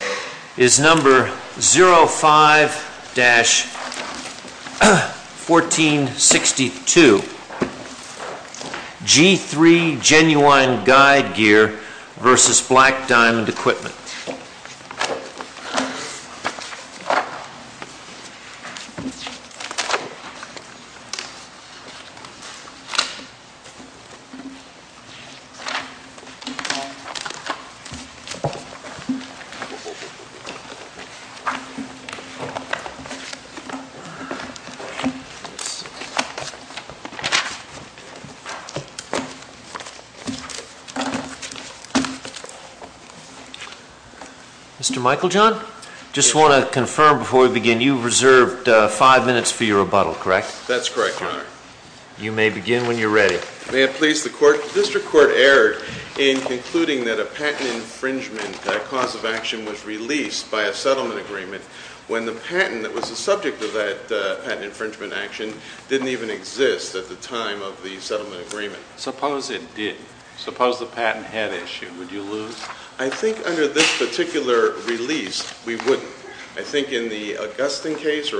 This is number 05-1462 G3 Genuine Guide Gear v. Black Diamond Equipment. Mr. Michael John, I just want to confirm before we begin, you've reserved five minutes for your rebuttal, correct? That's correct, Your Honor. You may begin when you're ready. May it please the Court, the District Court erred in concluding that a patent infringement action, that cause of action was released by a settlement agreement when the patent that was the subject of that patent infringement action didn't even exist at the time of the settlement agreement. Suppose it did. Suppose the patent had issued, would you lose? I think under this particular release, we wouldn't. I think in the Augustine case,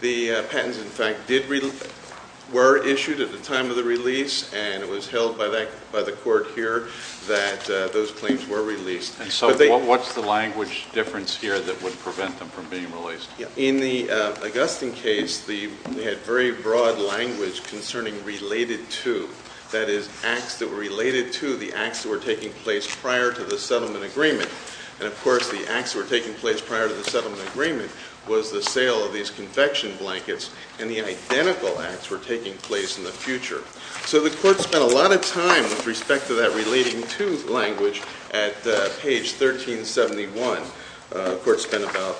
the patents, in fact, were issued at the time of the release and it was held by the Court here that those claims were released. And so what's the language difference here that would prevent them from being released? In the Augustine case, they had very broad language concerning related to, that is, acts that were related to the acts that were taking place prior to the settlement agreement. And of course, the acts that were taking place prior to the settlement agreement was the sale of these confection blankets and the identical acts were taking place in the future. So the Court spent a lot of time with respect to that relating to language at page 1371. The Court spent about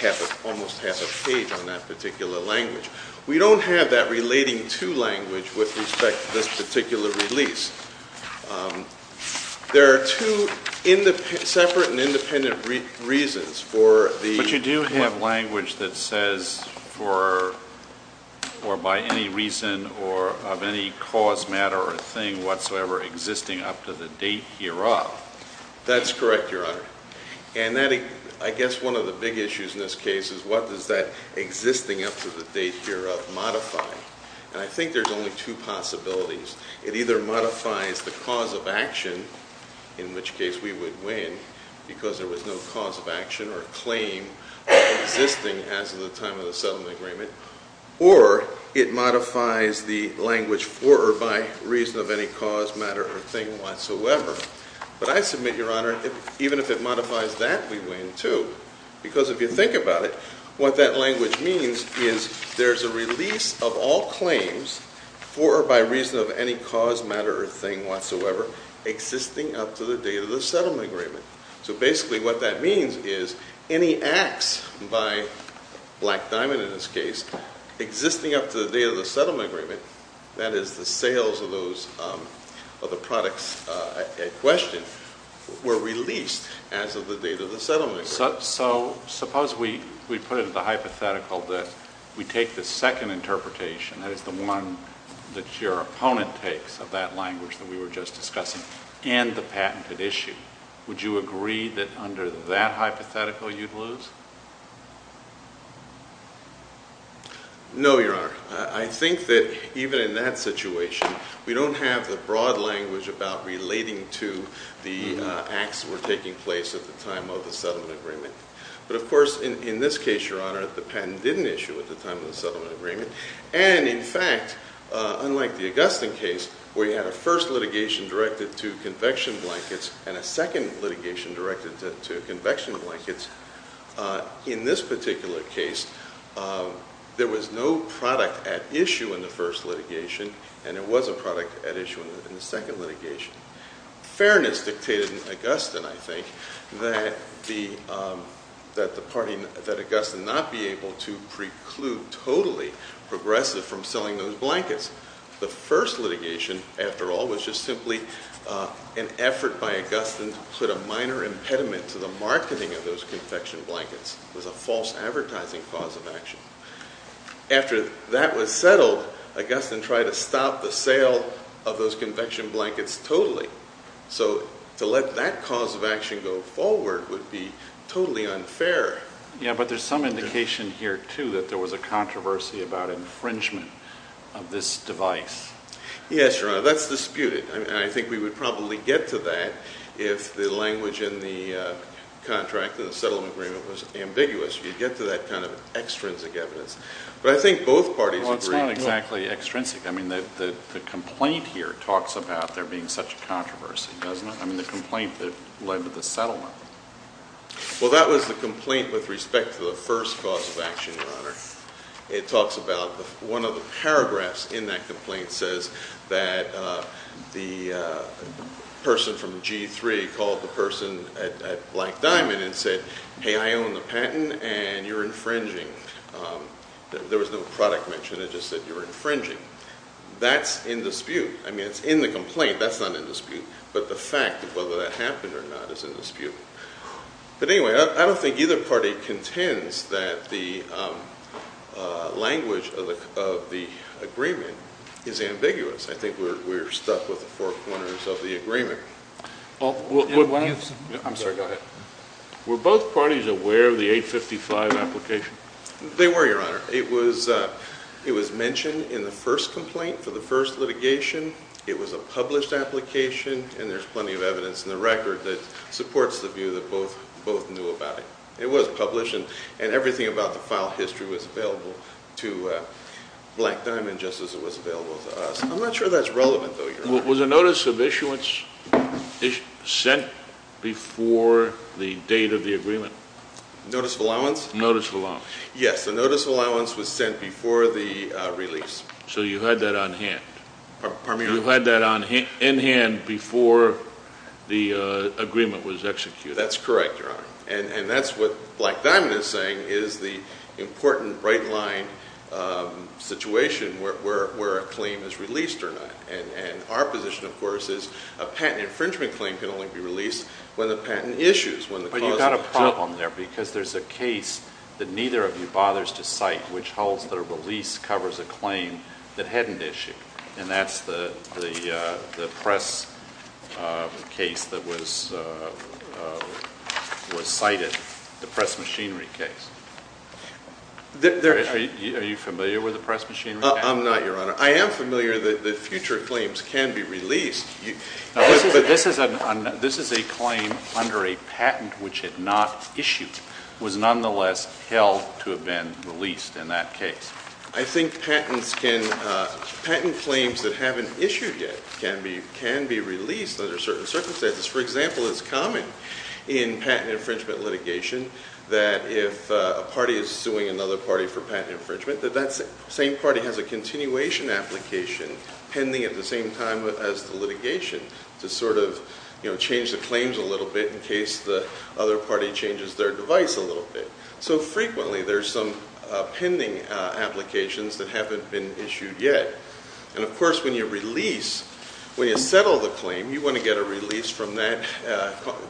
half, almost half a page on that particular language. We don't have that relating to language with respect to this particular release. There are two separate and independent reasons for the- The cause, matter, or thing whatsoever existing up to the date hereof. That's correct, Your Honor. And that, I guess one of the big issues in this case is what does that existing up to the date hereof modify? And I think there's only two possibilities. It either modifies the cause of action, in which case we would win because there was no cause of action or claim existing as of the time of the settlement agreement, or it modifies the language for or by reason of any cause, matter, or thing whatsoever. But I submit, Your Honor, even if it modifies that, we win too. Because if you think about it, what that language means is there's a release of all claims for or by reason of any cause, matter, or thing whatsoever existing up to the date of the settlement agreement. So basically, what that means is any acts by Black Diamond in this case existing up to the date of the settlement agreement, that is the sales of the products at question, were released as of the date of the settlement agreement. So suppose we put it in the hypothetical that we take the second interpretation, that is the one that your opponent takes of that language that we were just discussing, and the patented issue. Would you agree that under that hypothetical you'd lose? No, Your Honor. I think that even in that situation, we don't have the broad language about relating to the acts that were taking place at the time of the settlement agreement. But of course, in this case, Your Honor, the patent didn't issue at the time of the settlement agreement. And in fact, unlike the Augustine case, where you had a first litigation directed to convection blankets, in this particular case, there was no product at issue in the first litigation, and there was a product at issue in the second litigation. Fairness dictated in Augustine, I think, that the party, that Augustine not be able to preclude totally progressive from selling those blankets. The first litigation, after all, was just simply an effort by Augustine to put a minor impediment to the marketing of those convection blankets. It was a false advertising cause of action. After that was settled, Augustine tried to stop the sale of those convection blankets totally. So to let that cause of action go forward would be totally unfair. Yeah, but there's some indication here, too, that there was a controversy about infringement of this device. Yes, Your Honor, that's disputed, and I think we would probably get to that if the language in the contract, in the settlement agreement, was ambiguous, if you get to that kind of extrinsic evidence. But I think both parties agree. Well, it's not exactly extrinsic. I mean, the complaint here talks about there being such a controversy, doesn't it? I mean, the complaint that led to the settlement. Well, that was the complaint with respect to the first cause of action, Your Honor. It talks about one of the paragraphs in that complaint says that the person from G3 called the person at Black Diamond and said, hey, I own the patent, and you're infringing. There was no product mention. It just said you're infringing. That's in dispute. I mean, it's in the complaint. That's not in dispute. But the fact of whether that happened or not is in dispute. But anyway, I don't think either party contends that the language of the agreement is ambiguous. I think we're stuck with the four corners of the agreement. I'm sorry. Go ahead. Were both parties aware of the 855 application? They were, Your Honor. It was mentioned in the first complaint for the first litigation. It was a published application, and there's plenty of evidence in the record that supports the view that both knew about it. It was published, and everything about the file history was available to Black Diamond just as it was available to us. I'm not sure that's relevant, though, Your Honor. Was a notice of issuance sent before the date of the agreement? Notice of allowance? Notice of allowance. Yes, the notice of allowance was sent before the release. So you had that on hand? Pardon me, Your Honor? You had that in hand before the agreement was executed? That's correct, Your Honor. And that's what Black Diamond is saying is the important right line situation where a claim is released or not. And our position, of course, is a patent infringement claim can only be released when the patent issues. But you've got a problem there because there's a case that neither of you bothers to cite which holds that a release covers a claim that hadn't issued. And that's the press case that was cited, the press machinery case. Are you familiar with the press machinery case? I'm not, Your Honor. I am familiar that future claims can be released. This is a claim under a patent which had not issued, was nonetheless held to have been released in that case. I think patent claims that haven't issued yet can be released under certain circumstances. For example, it's common in patent infringement litigation that if a party is suing another party for patent infringement, that that same party has a continuation application pending at the same time as the litigation to sort of change the claims a little bit in case the other party changes their device a little bit. So frequently, there's some pending applications that haven't been issued yet. And of course, when you release, when you settle the claim, you want to get a release from that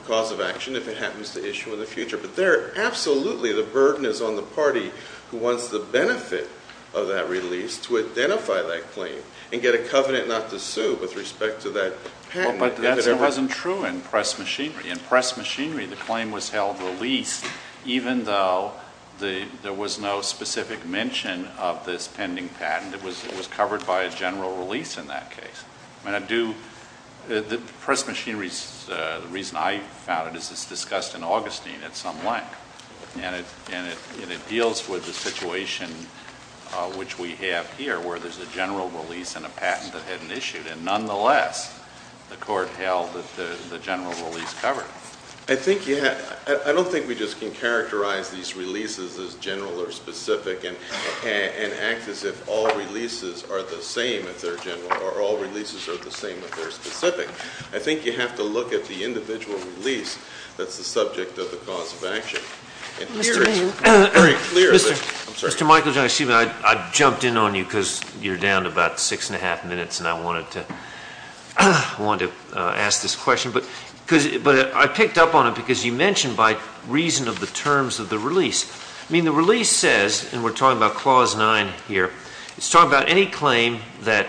cause of action if it happens to issue in the future. But there, absolutely, the burden is on the party who wants the benefit of that release to identify that claim and get a covenant not to sue with respect to that patent. But that wasn't true in press machinery. In press machinery, the claim was held released even though there was no specific mention of this pending patent. It was covered by a general release in that case. The press machinery, the reason I found it, is it's discussed in Augustine at some length. And it deals with the situation which we have here where there's a general release and a patent that hadn't issued. And nonetheless, the court held that the general release covered it. I don't think we just can characterize these releases as general or specific and act as if all releases are the same if they're general or all releases are the same if they're specific. I think you have to look at the individual release that's the subject of the cause of action. And here it's very clear. I'm sorry. Mr. Michael, excuse me, I jumped in on you because you're down to about six and a half minutes and I wanted to ask this question. But I picked up on it because you mentioned by reason of the terms of the release. I mean the release says, and we're talking about clause nine here, it's talking about any claim that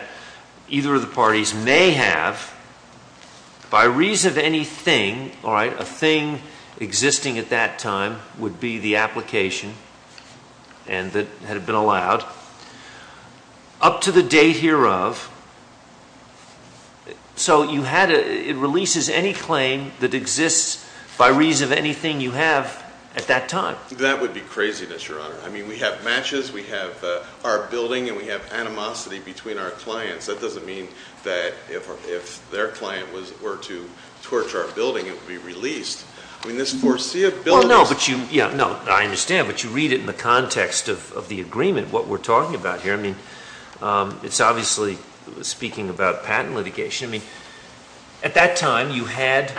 either of the parties may have by reason of anything, all right, a thing existing at that time would be the application and that had been allowed up to the date hereof. So it releases any claim that exists by reason of anything you have at that time. That would be craziness, Your Honor. I mean we have matches, we have our building, and we have animosity between our clients. That doesn't mean that if their client were to torture our building, it would be released. I mean this foreseeability... Well, no, but you, yeah, no, I understand, but you read it in the context of the agreement, what we're talking about here. I mean it's obviously speaking about patent litigation. I mean at that time you had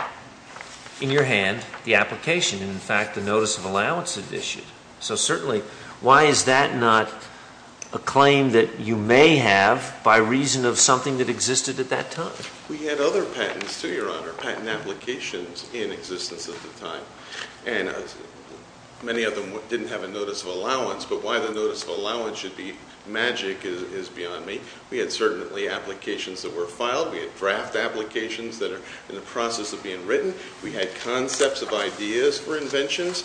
in your hand the application and in fact the notice of allowance had issued. So certainly why is that not a claim that you may have by reason of something that existed at that time? We had other patents too, Your Honor, patent applications in existence at the time. And many of them didn't have a notice of allowance, but why the notice of allowance should be magic is beyond me. We had certainly applications that were filed. We had draft applications that are in the process of being written. We had concepts of ideas for inventions.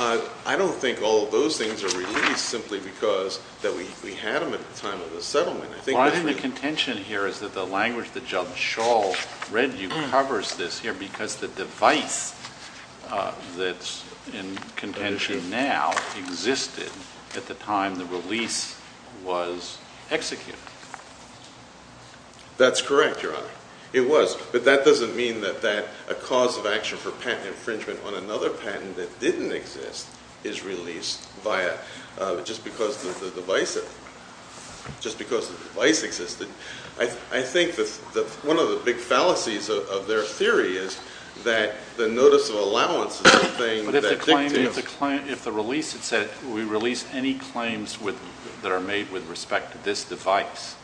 I don't think all of those things are released simply because that we had them at the time of the settlement. Well, I think the contention here is that the language that John Shaw read you covers this here because the device that's in contention now existed at the time the release was executed. That's correct, Your Honor. It was. But that doesn't mean that a cause of action for patent infringement on another patent that didn't exist is released just because the device existed. I think one of the big fallacies of their theory is that the notice of allowance is something that didn't exist. But if the release had said, we release any claims that are made with respect to this device.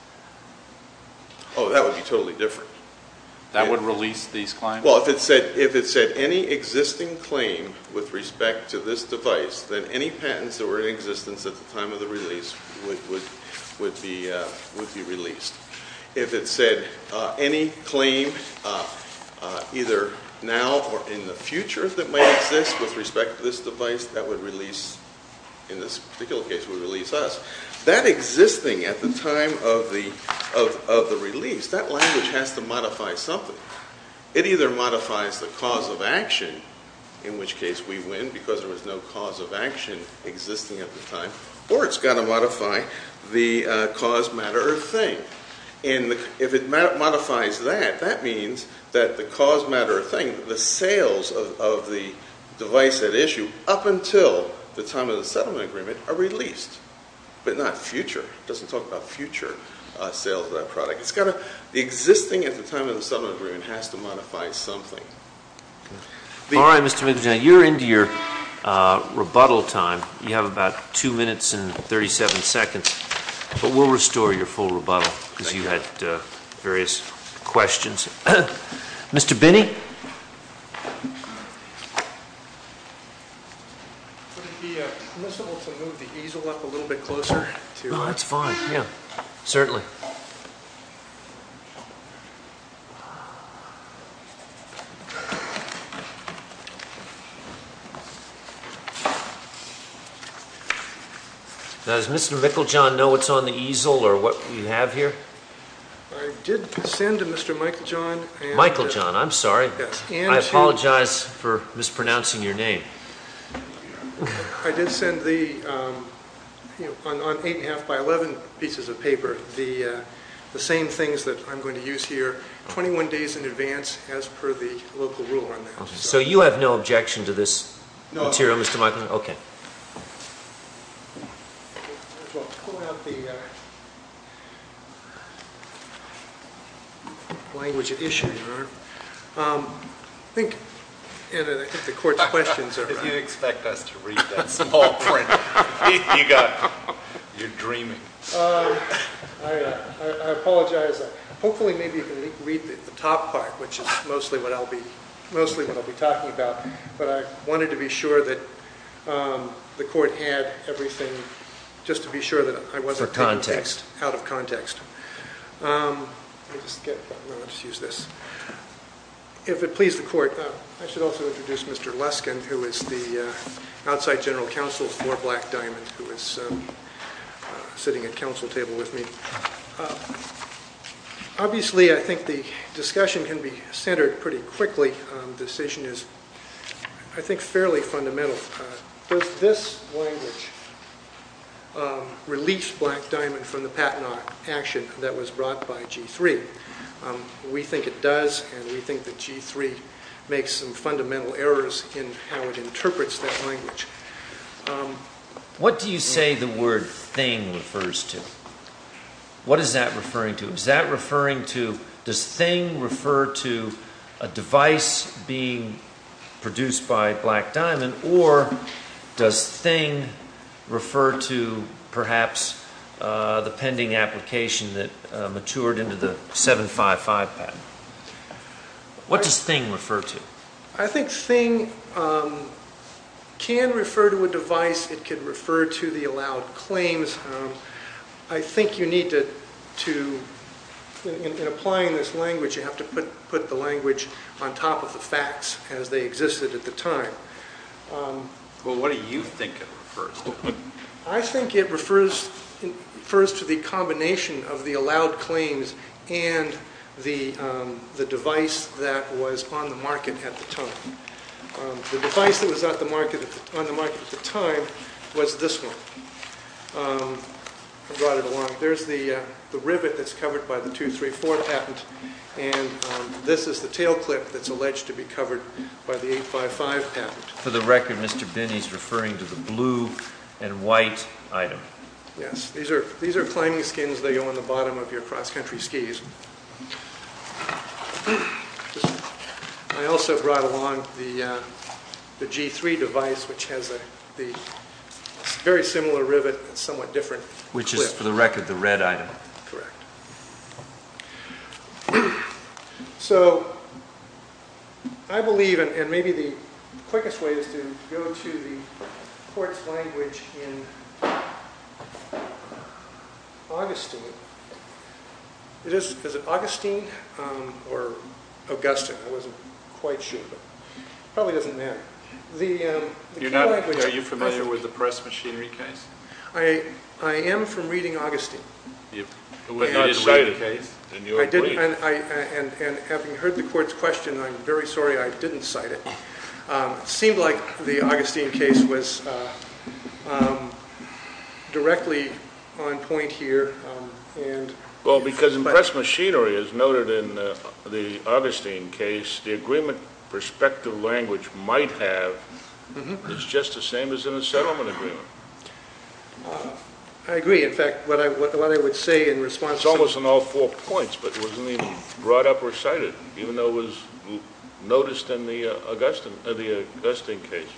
Oh, that would be totally different. That would release these claims? Well, if it said any existing claim with respect to this device, then any patents that were in existence at the time of the release would be released. If it said any claim either now or in the future that might exist with respect to this device, that would release, in this particular case, would release us. That existing at the time of the release, that language has to modify something. It either modifies the cause of action, in which case we win because there was no cause of action existing at the time, or it's got to modify the cause, matter, or thing. And if it modifies that, that means that the cause, matter, or thing, the sales of the device at issue, up until the time of the settlement agreement, are released, but not future. It doesn't talk about future sales of that product. It's got to... The existing at the time of the settlement agreement has to modify something. All right, Mr. McDonough, you're into your rebuttal time. You have about 2 minutes and 37 seconds, but we'll restore your full rebuttal because you had various questions. Mr. Binney? Would it be permissible to move the easel up a little bit closer? Oh, that's fine, yeah, certainly. Does Mr. Mickeljohn know what's on the easel or what we have here? I did send to Mr. Mickeljohn... Mickeljohn, I'm sorry. I apologize for mispronouncing your name. I did send the... on 8 1⁄2 by 11 pieces of paper the same things that I'm going to use here 21 days in advance as per the local rule on that. So you have no objection to this material, Mr. Mickeljohn? No. Okay. Might as well pull out the... language of issue, Your Honor. I think... I think the court's questions are... If you'd expect us to read that small print, you got... you're dreaming. I apologize. Hopefully, maybe you can read the top part, which is mostly what I'll be... mostly what I'll be talking about, but I wanted to be sure that... the court had everything... just to be sure that I wasn't... For context. Out of context. Let me just get... Let me just use this. If it pleases the court, I should also introduce Mr. Luskin, who is the outside general counsel for Black Diamond, who is sitting at counsel table with me. Obviously, I think the discussion can be centered pretty quickly. Decision is, I think, fairly fundamental. Does this language... release Black Diamond from the patent action that was brought by G3? We think it does, and we think that G3 makes some fundamental errors in how it interprets that language. What do you say the word thing refers to? What is that referring to? Is that referring to... Does thing refer to a device being produced by Black Diamond, or does thing refer to perhaps the pending application that matured into the 755 patent? What does thing refer to? I think thing... can refer to a device. It can refer to the allowed claims. I think you need to... In applying this language, you have to put the language on top of the facts as they existed at the time. Well, what do you think it refers to? I think it refers... refers to the combination of the allowed claims and the device that was on the market at the time. The device that was on the market at the time was this one. I brought it along. There's the rivet that's covered by the 234 patent, and this is the tail clip that's alleged to be covered by the 855 patent. For the record, Mr. Binney's referring to the blue and white item. Yes. These are climbing skins that go on the bottom of your cross-country skis. I also brought along the G3 device, which has the very similar rivet and somewhat different clip. Which is, for the record, the red item. Correct. So I believe, and maybe the quickest way is to go to the court's language in Augustine. Is it Augustine or Augustine? I wasn't quite sure. Probably doesn't matter. The key language... Are you familiar with the press machinery case? I am from reading Augustine. It is cited in your brief. And having heard the court's question, I'm very sorry I didn't cite it. It seemed like the Augustine case was directly on point here. Well, because in press machinery, as noted in the Augustine case, the agreement perspective language might have is just the same as in a settlement agreement. I agree. In fact, what I would say in response... It's almost on all four points, but it wasn't even brought up or cited, even though it was noticed in the Augustine case.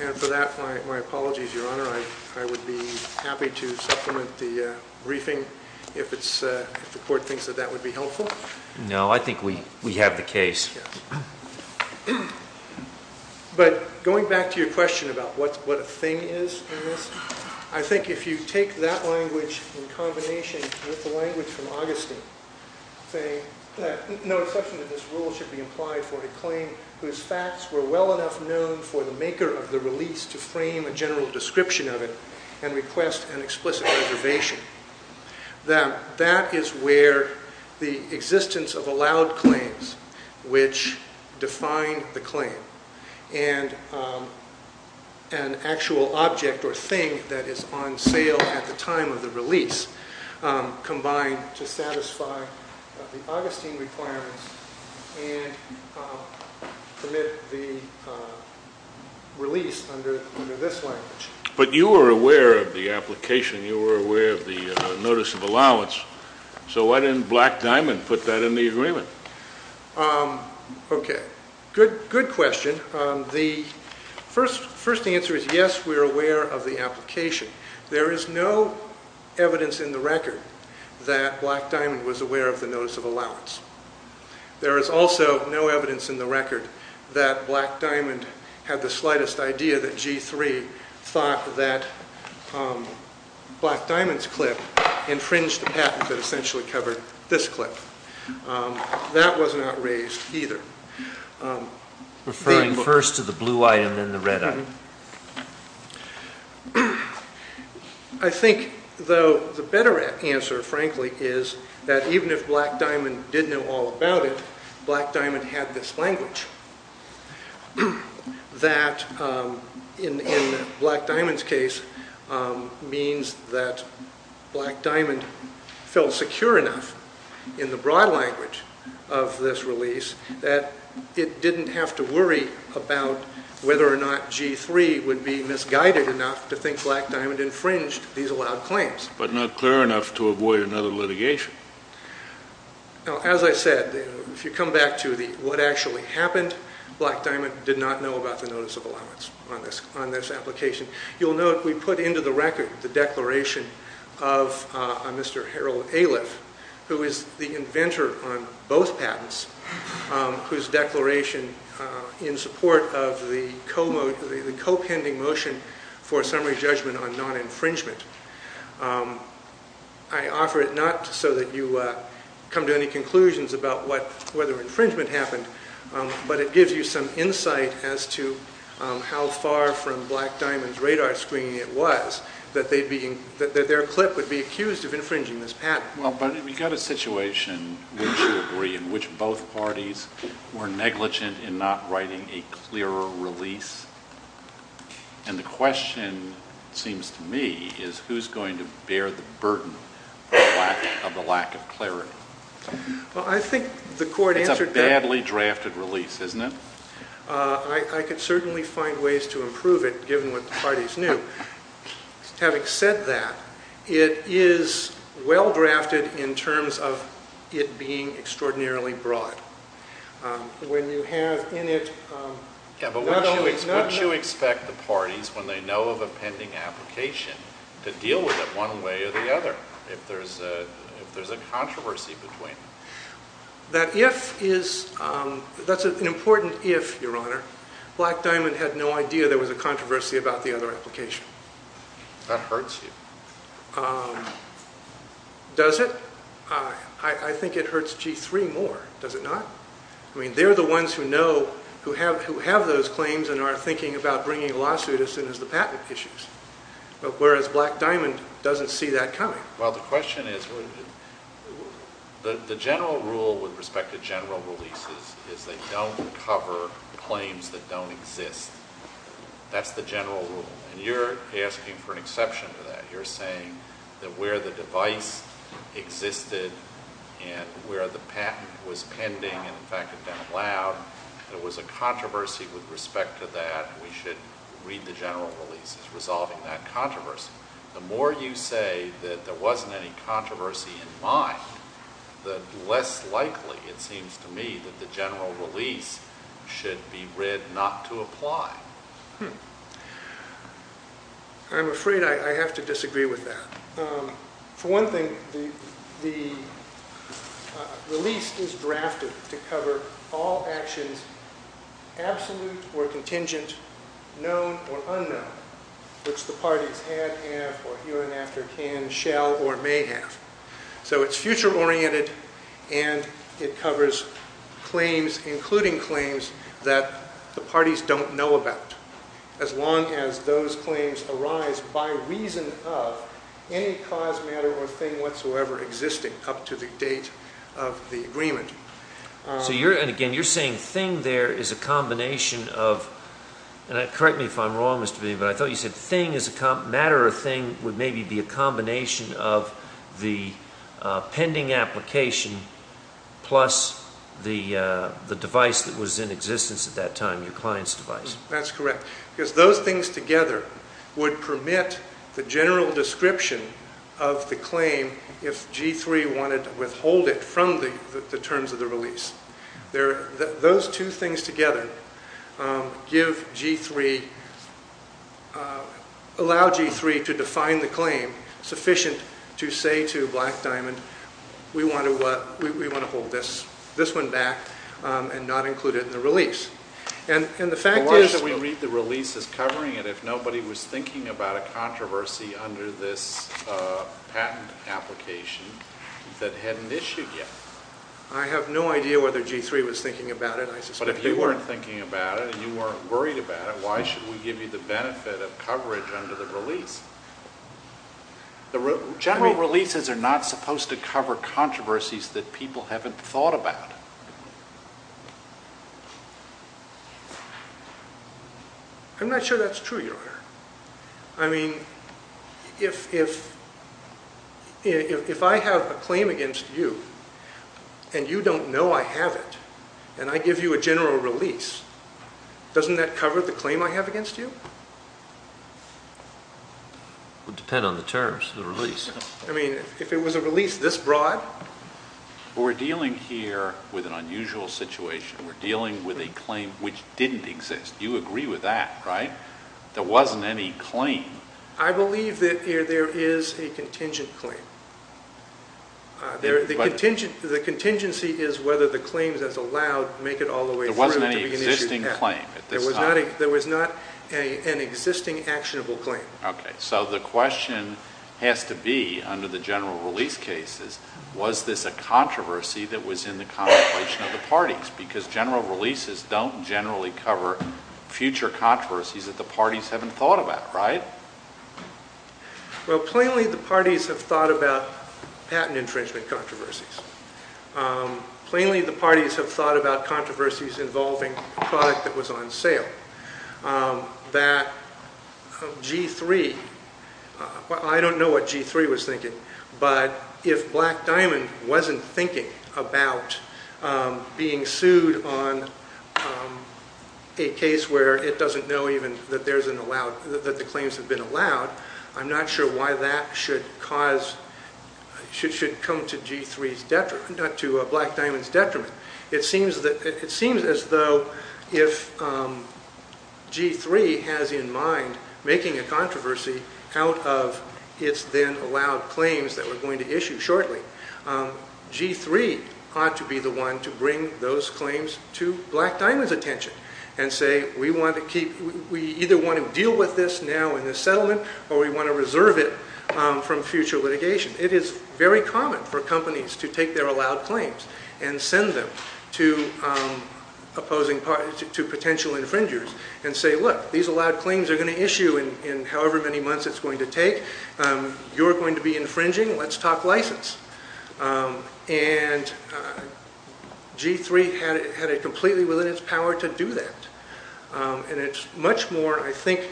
And for that, my apologies, Your Honor. I would be happy to supplement the briefing if the court thinks that that would be helpful. No, I think we have the case. But going back to your question about what a thing is in this, I think if you take that language in combination with the language from Augustine, saying that no exception to this rule should be implied for a claim whose facts were well enough known for the maker of the release to frame a general description of it and request an explicit reservation, that that is where the existence of allowed claims, which define the claim, and an actual object or thing that is on sale at the time of the release combined to satisfy the Augustine requirements and commit the release under this language. But you were aware of the application. You were aware of the notice of allowance. So why didn't Black Diamond put that in the agreement? Okay, good question. The first answer is yes, we're aware of the application. There is no evidence in the record that Black Diamond was aware of the notice of allowance. There is also no evidence in the record that Black Diamond had the slightest idea that G3 thought that Black Diamond's clip infringed the patent that essentially covered this clip. That was not raised either. Referring first to the blue item, then the red item. I think, though, the better answer, frankly, is that even if Black Diamond did know all about it, Black Diamond had this language. That, in Black Diamond's case, means that Black Diamond felt secure enough in the broad language of this release that it didn't have to worry about whether or not G3 would be misguided enough to think Black Diamond infringed these allowed claims. But not clear enough to avoid another litigation. As I said, if you come back to what actually happened, Black Diamond did not know about the notice of allowance on this application. You'll note we put into the record the declaration of Mr. Harold Aliff, who is the inventor on both patents, whose declaration in support of the co-pending motion for a summary judgment on non-infringement. I offer it not so that you come to any conclusions about whether infringement happened, but it gives you some insight as to how far from Black Diamond's radar screening it was that their clip would be accused of infringing this patent. Well, but we've got a situation, wouldn't you agree, in which both parties were negligent in not writing a clearer release? And the question, it seems to me, is who's going to bear the burden of the lack of clarity? Well, I think the court answered... It's a badly drafted release, isn't it? I could certainly find ways to improve it, given what the parties knew. Having said that, it is well-drafted in terms of it being extraordinarily broad. When you have in it... Yeah, but what do you expect the parties, when they know of a pending application, to deal with it one way or the other, if there's a controversy between them? That if is... That's an important if, Your Honor. Black Diamond had no idea there was a controversy about the other application. That hurts you. Does it? I think it hurts G3 more, does it not? I mean, they're the ones who know, who have those claims and are thinking about bringing a lawsuit as soon as the patent issues, whereas Black Diamond doesn't see that coming. Well, the question is... The general rule with respect to general releases is they don't cover claims that don't exist. That's the general rule. And you're asking for an exception to that. You're saying that where the device existed and where the patent was pending and, in fact, had been allowed, there was a controversy with respect to that, we should read the general releases resolving that controversy. The more you say that there wasn't any controversy in mind, the less likely, it seems to me, that the general release should be read not to apply. Hmm. I'm afraid I have to disagree with that. For one thing, the release is drafted to cover all actions, absolute or contingent, known or unknown, which the parties had, have, or here and after can, shall, or may have. So it's future-oriented and it covers claims, including claims that the parties don't know about, as long as those claims arise by reason of any cause, matter, or thing whatsoever existing up to the date of the agreement. So you're... And, again, you're saying thing there is a combination of... Correct me if I'm wrong, Mr. Vinnie, but I thought you said thing is a... Matter or thing would maybe be a combination of the pending application plus the device that was in existence at that time, your client's device. That's correct, because those things together would permit the general description of the claim if G3 wanted to withhold it from the terms of the release. Those two things together give G3... allow G3 to define the claim sufficient to say to Black Diamond, we want to hold this one back and not include it in the release. And the fact is... Unless we read the release as covering it, if nobody was thinking about a controversy under this patent application that hadn't issued yet. I have no idea whether G3 was thinking about it. But if you weren't thinking about it and you weren't worried about it, why should we give you the benefit of coverage under the release? The general releases are not supposed to cover controversies that people haven't thought about. I'm not sure that's true, your honor. I mean, if... if I have a claim against you and you don't know I have it and I give you a general release, doesn't that cover the claim I have against you? It would depend on the terms of the release. I mean, if it was a release this broad... We're dealing here with an unusual situation. We're dealing with a claim which didn't exist. You agree with that, right? There wasn't any claim. I believe that there is a contingent claim. The contingency is whether the claim that's allowed make it all the way through to be an issued patent. There wasn't any existing claim at this time. There was not an existing actionable claim. Okay, so the question has to be, under the general release cases, was this a controversy that was in the contemplation of the parties? Because general releases don't generally cover future controversies that the parties haven't thought about, right? Well, plainly, the parties have thought about patent infringement controversies. Plainly, the parties have thought about controversies involving a product that was on sale. That G3... I don't know what G3 was thinking, but if Black Diamond wasn't thinking about being sued on a case where it doesn't know even that there's an allowed... that the claims have been allowed, I'm not sure why that should cause... should come to G3's detriment... to Black Diamond's detriment. It seems as though if G3 has in mind making a controversy out of its then-allowed claims that we're going to issue shortly, G3 ought to be the one to bring those claims to Black Diamond's attention and say, we either want to deal with this now in the settlement or we want to reserve it from future litigation. It is very common for companies to take their allowed claims and send them to opposing parties... to potential infringers and say, look, these allowed claims are going to issue in however many months it's going to take. You're going to be infringing. Let's talk license. And G3 had it completely within its power to do that. And it's much more, I think,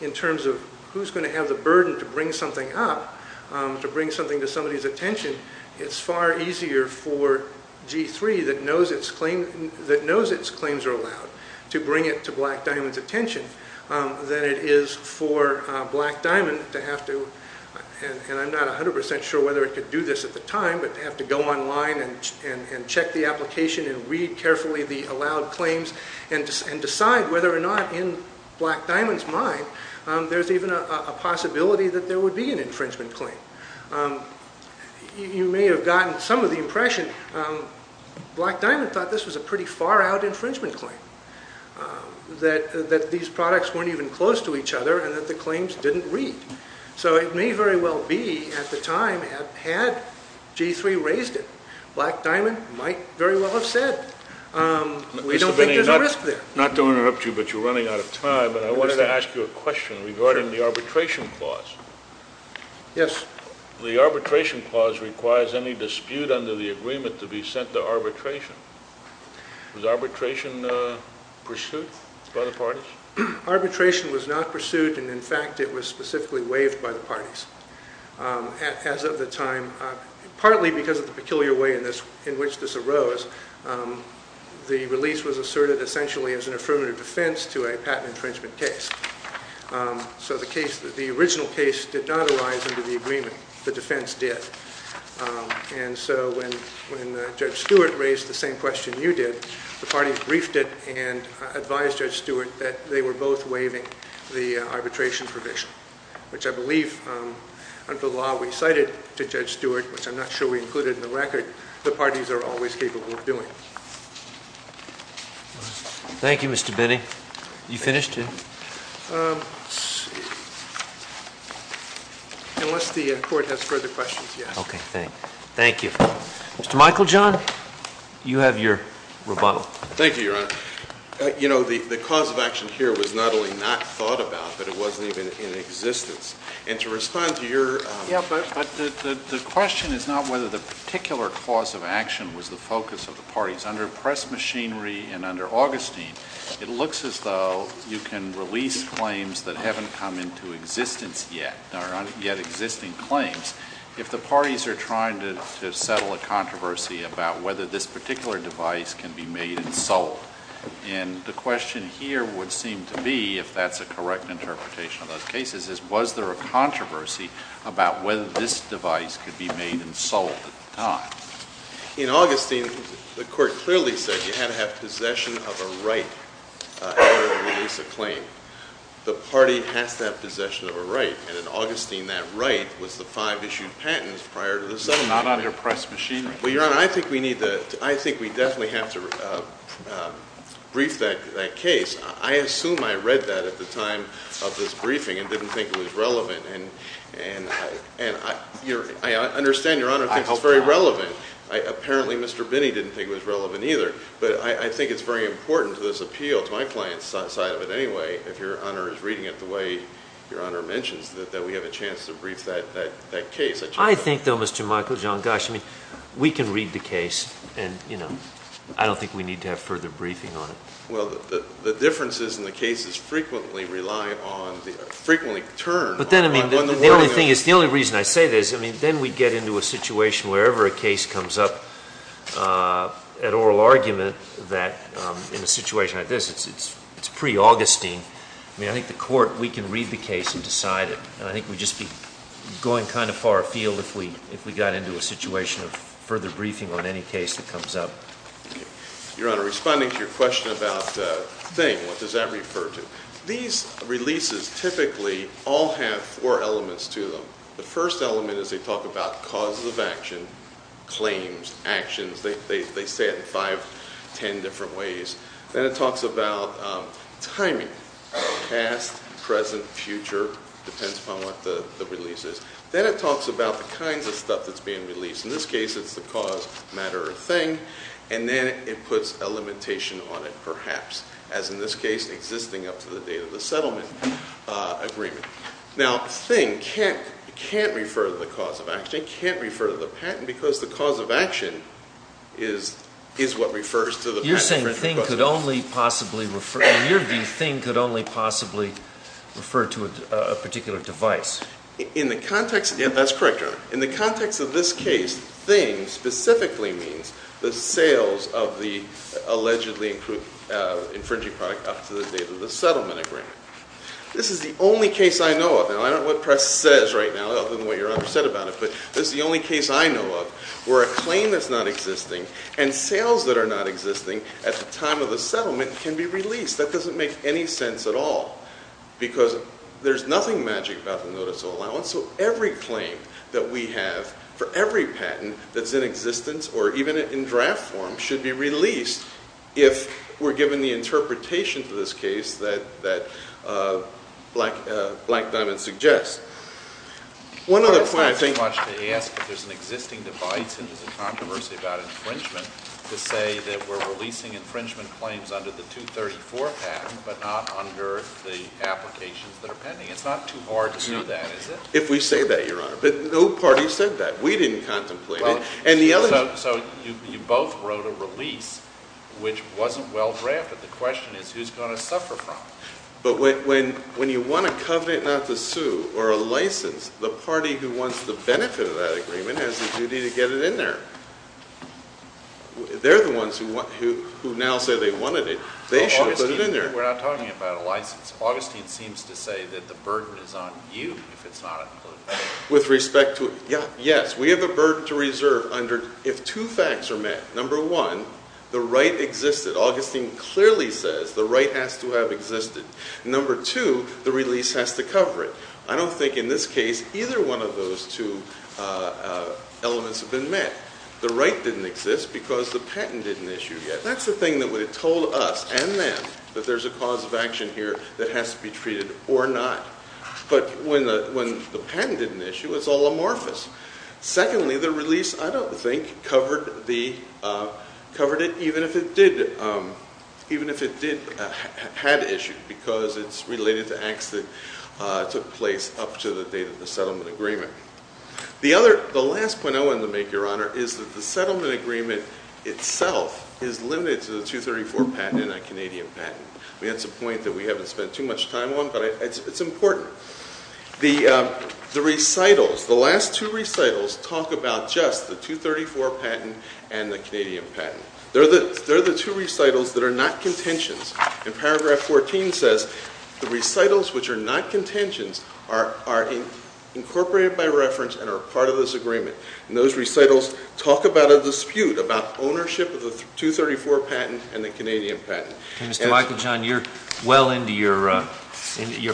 in terms of who's going to have the burden to bring something up, to bring something to somebody's attention. It's far easier for G3 that knows its claims are allowed to bring it to Black Diamond's attention than it is for Black Diamond to have to... and I'm not 100% sure whether it could do this at the time, but have to go online and check the application and read carefully the allowed claims and decide whether or not in Black Diamond's mind there's even a possibility that there would be an infringement claim. You may have gotten some of the impression Black Diamond thought this was a pretty far-out infringement claim, that these products weren't even close to each other and that the claims didn't read. So it may very well be, at the time, had G3 raised it, Black Diamond might very well have said, we don't think there's a risk there. Not to interrupt you, but you're running out of time, but I wanted to ask you a question regarding the arbitration clause. Yes. The arbitration clause requires any dispute under the agreement to be sent to arbitration. Was arbitration pursued by the parties? Arbitration was not pursued, and in fact it was specifically waived by the parties. As of the time, partly because of the peculiar way in which this arose, the release was asserted essentially as an affirmative defense to a patent infringement case. So the original case did not arise under the agreement. The defense did. And so when Judge Stewart raised the same question you did, the parties briefed it and advised Judge Stewart that they were both waiving the arbitration provision, which I believe, under the law we cited to Judge Stewart, which I'm not sure we included in the record, the parties are always capable of doing. Thank you, Mr. Benny. You finished, Jim? Unless the court has further questions, yes. Okay, thank you. Mr. Michael John, you have your rebuttal. Thank you, Your Honor. You know, the cause of action here was not only not thought about, but it wasn't even in existence. And to respond to your... Yeah, but the question is not whether the particular cause of action was the focus of the parties. Under Press Machinery and under Augustine, it looks as though you can release claims that haven't come into existence yet, or aren't yet existing claims, if the parties are trying to settle a controversy about whether this particular device can be made and sold. And the question here would seem to be, if that's a correct interpretation of those cases, is was there a controversy about whether this device could be made and sold at the time? In Augustine, the court clearly said you had to have possession of a right in order to release a claim. The party has to have possession of a right. And in Augustine, that right was the five issued patents prior to the settlement. Not under Press Machinery. Well, Your Honor, I think we definitely have to brief that case. I assume I read that at the time of this briefing and didn't think it was relevant. And I understand Your Honor thinks it's very relevant. Apparently, Mr. Binney didn't think it was relevant either. But I think it's very important to this appeal, to my client's side of it anyway, if Your Honor is reading it the way Your Honor mentions that we have a chance to brief that case. I think though, Mr. Michael, John Gosch, I mean, we can read the case and, you know, I don't think we need to have further briefing on it. Well, the differences in the cases frequently rely on frequently turn on the world. The only reason I say this, I mean, then we get into a situation wherever a case comes up at oral argument that in a situation like this, it's pre-Augustine. I mean, I think the court, we can read the case and decide it. I think we'd just be going kind of far afield if we got into a situation of further briefing on any case that comes up. Your Honor, responding to your question about the thing, what does that refer to? These releases typically all have four elements to them. The first element is they talk about causes of action, claims, actions, they say it in five, ten different ways. Then it talks about timing, past, present, future, depends upon what the release is. Then it talks about the kinds of stuff that's being released. In this case, it's the cause, matter or thing, and then it puts a limitation on it, perhaps. As in this case, existing up to the date of the settlement agreement. Now, thing can't refer to the cause of action, can't refer to the patent, because the cause of action is what refers to the patent. You're saying thing could only possibly refer to a particular device. In the context, yeah, that's correct, Your Honor. In the context of this case, thing specifically means the sales of the allegedly infringing product up to the date of the settlement agreement. This is the only case I know of. Now, I don't know what press says right now other than what Your Honor said about it, but this is the only case I know of where a claim that's not existing and sales that are not existing at the time of the settlement can be released. That doesn't make any sense at all, because there's nothing magic about the notice of allowance, so every claim that we have for every patent that's in existence, or even in draft form, should be released if we're given the interpretation to this case that Black Diamond suggests. One other point, I think... I think it's too much to ask if there's an existing device and there's a controversy about infringement to say that we're releasing infringement claims under the 234 patent, but not under the applications that are pending. It's not too hard to do that, is it? If we say that, Your Honor, but no So you both wrote a release which wasn't well-drafted. The question is, who's going to suffer from it? But when you want a covenant not to sue, or a license, the party who wants the benefit of that agreement has the duty to get it in there. They're the ones who now say they wanted it. They should put it in there. We're not talking about a license. Augustine seems to say that the burden is on you if it's not included. Yes, we have a burden to reserve if two facts are met. Number one, the right existed. Augustine clearly says the right has to have existed. Number two, the release has to cover it. I don't think in this case, either one of those two elements have been met. The right didn't exist because the patent didn't issue yet. That's the thing that would have told us, and them, that there's a cause of action here that has to be treated, or not. But when the patent didn't issue, it's all amorphous. Secondly, the release, I don't think, covered it even if it did had issue, because it's related to acts that took place up to the date of the settlement agreement. The last point I want to make, Your Honor, is that the settlement agreement itself is limited to the 234 patent and a Canadian patent. That's a point that we haven't spent too much time on, but it's important. The recitals, the last two recitals talk about just the 234 patent and the Canadian patent. They're the two recitals that are not contentions. In paragraph 14 says, the recitals which are not contentions are incorporated by reference and are part of this agreement. And those recitals talk about a dispute about ownership of the 234 patent and the Canadian patent. Mr. Michael John, you're well into your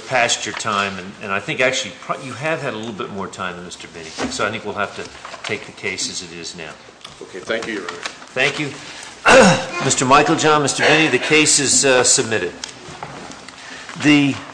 pasture time, and I think actually you have had a little bit more time than Mr. Binney, so I think we'll have to take the case as it is now. Okay, thank you, Your Honor. Thank you. Mr. Michael John, Mr. Binney, the case is submitted.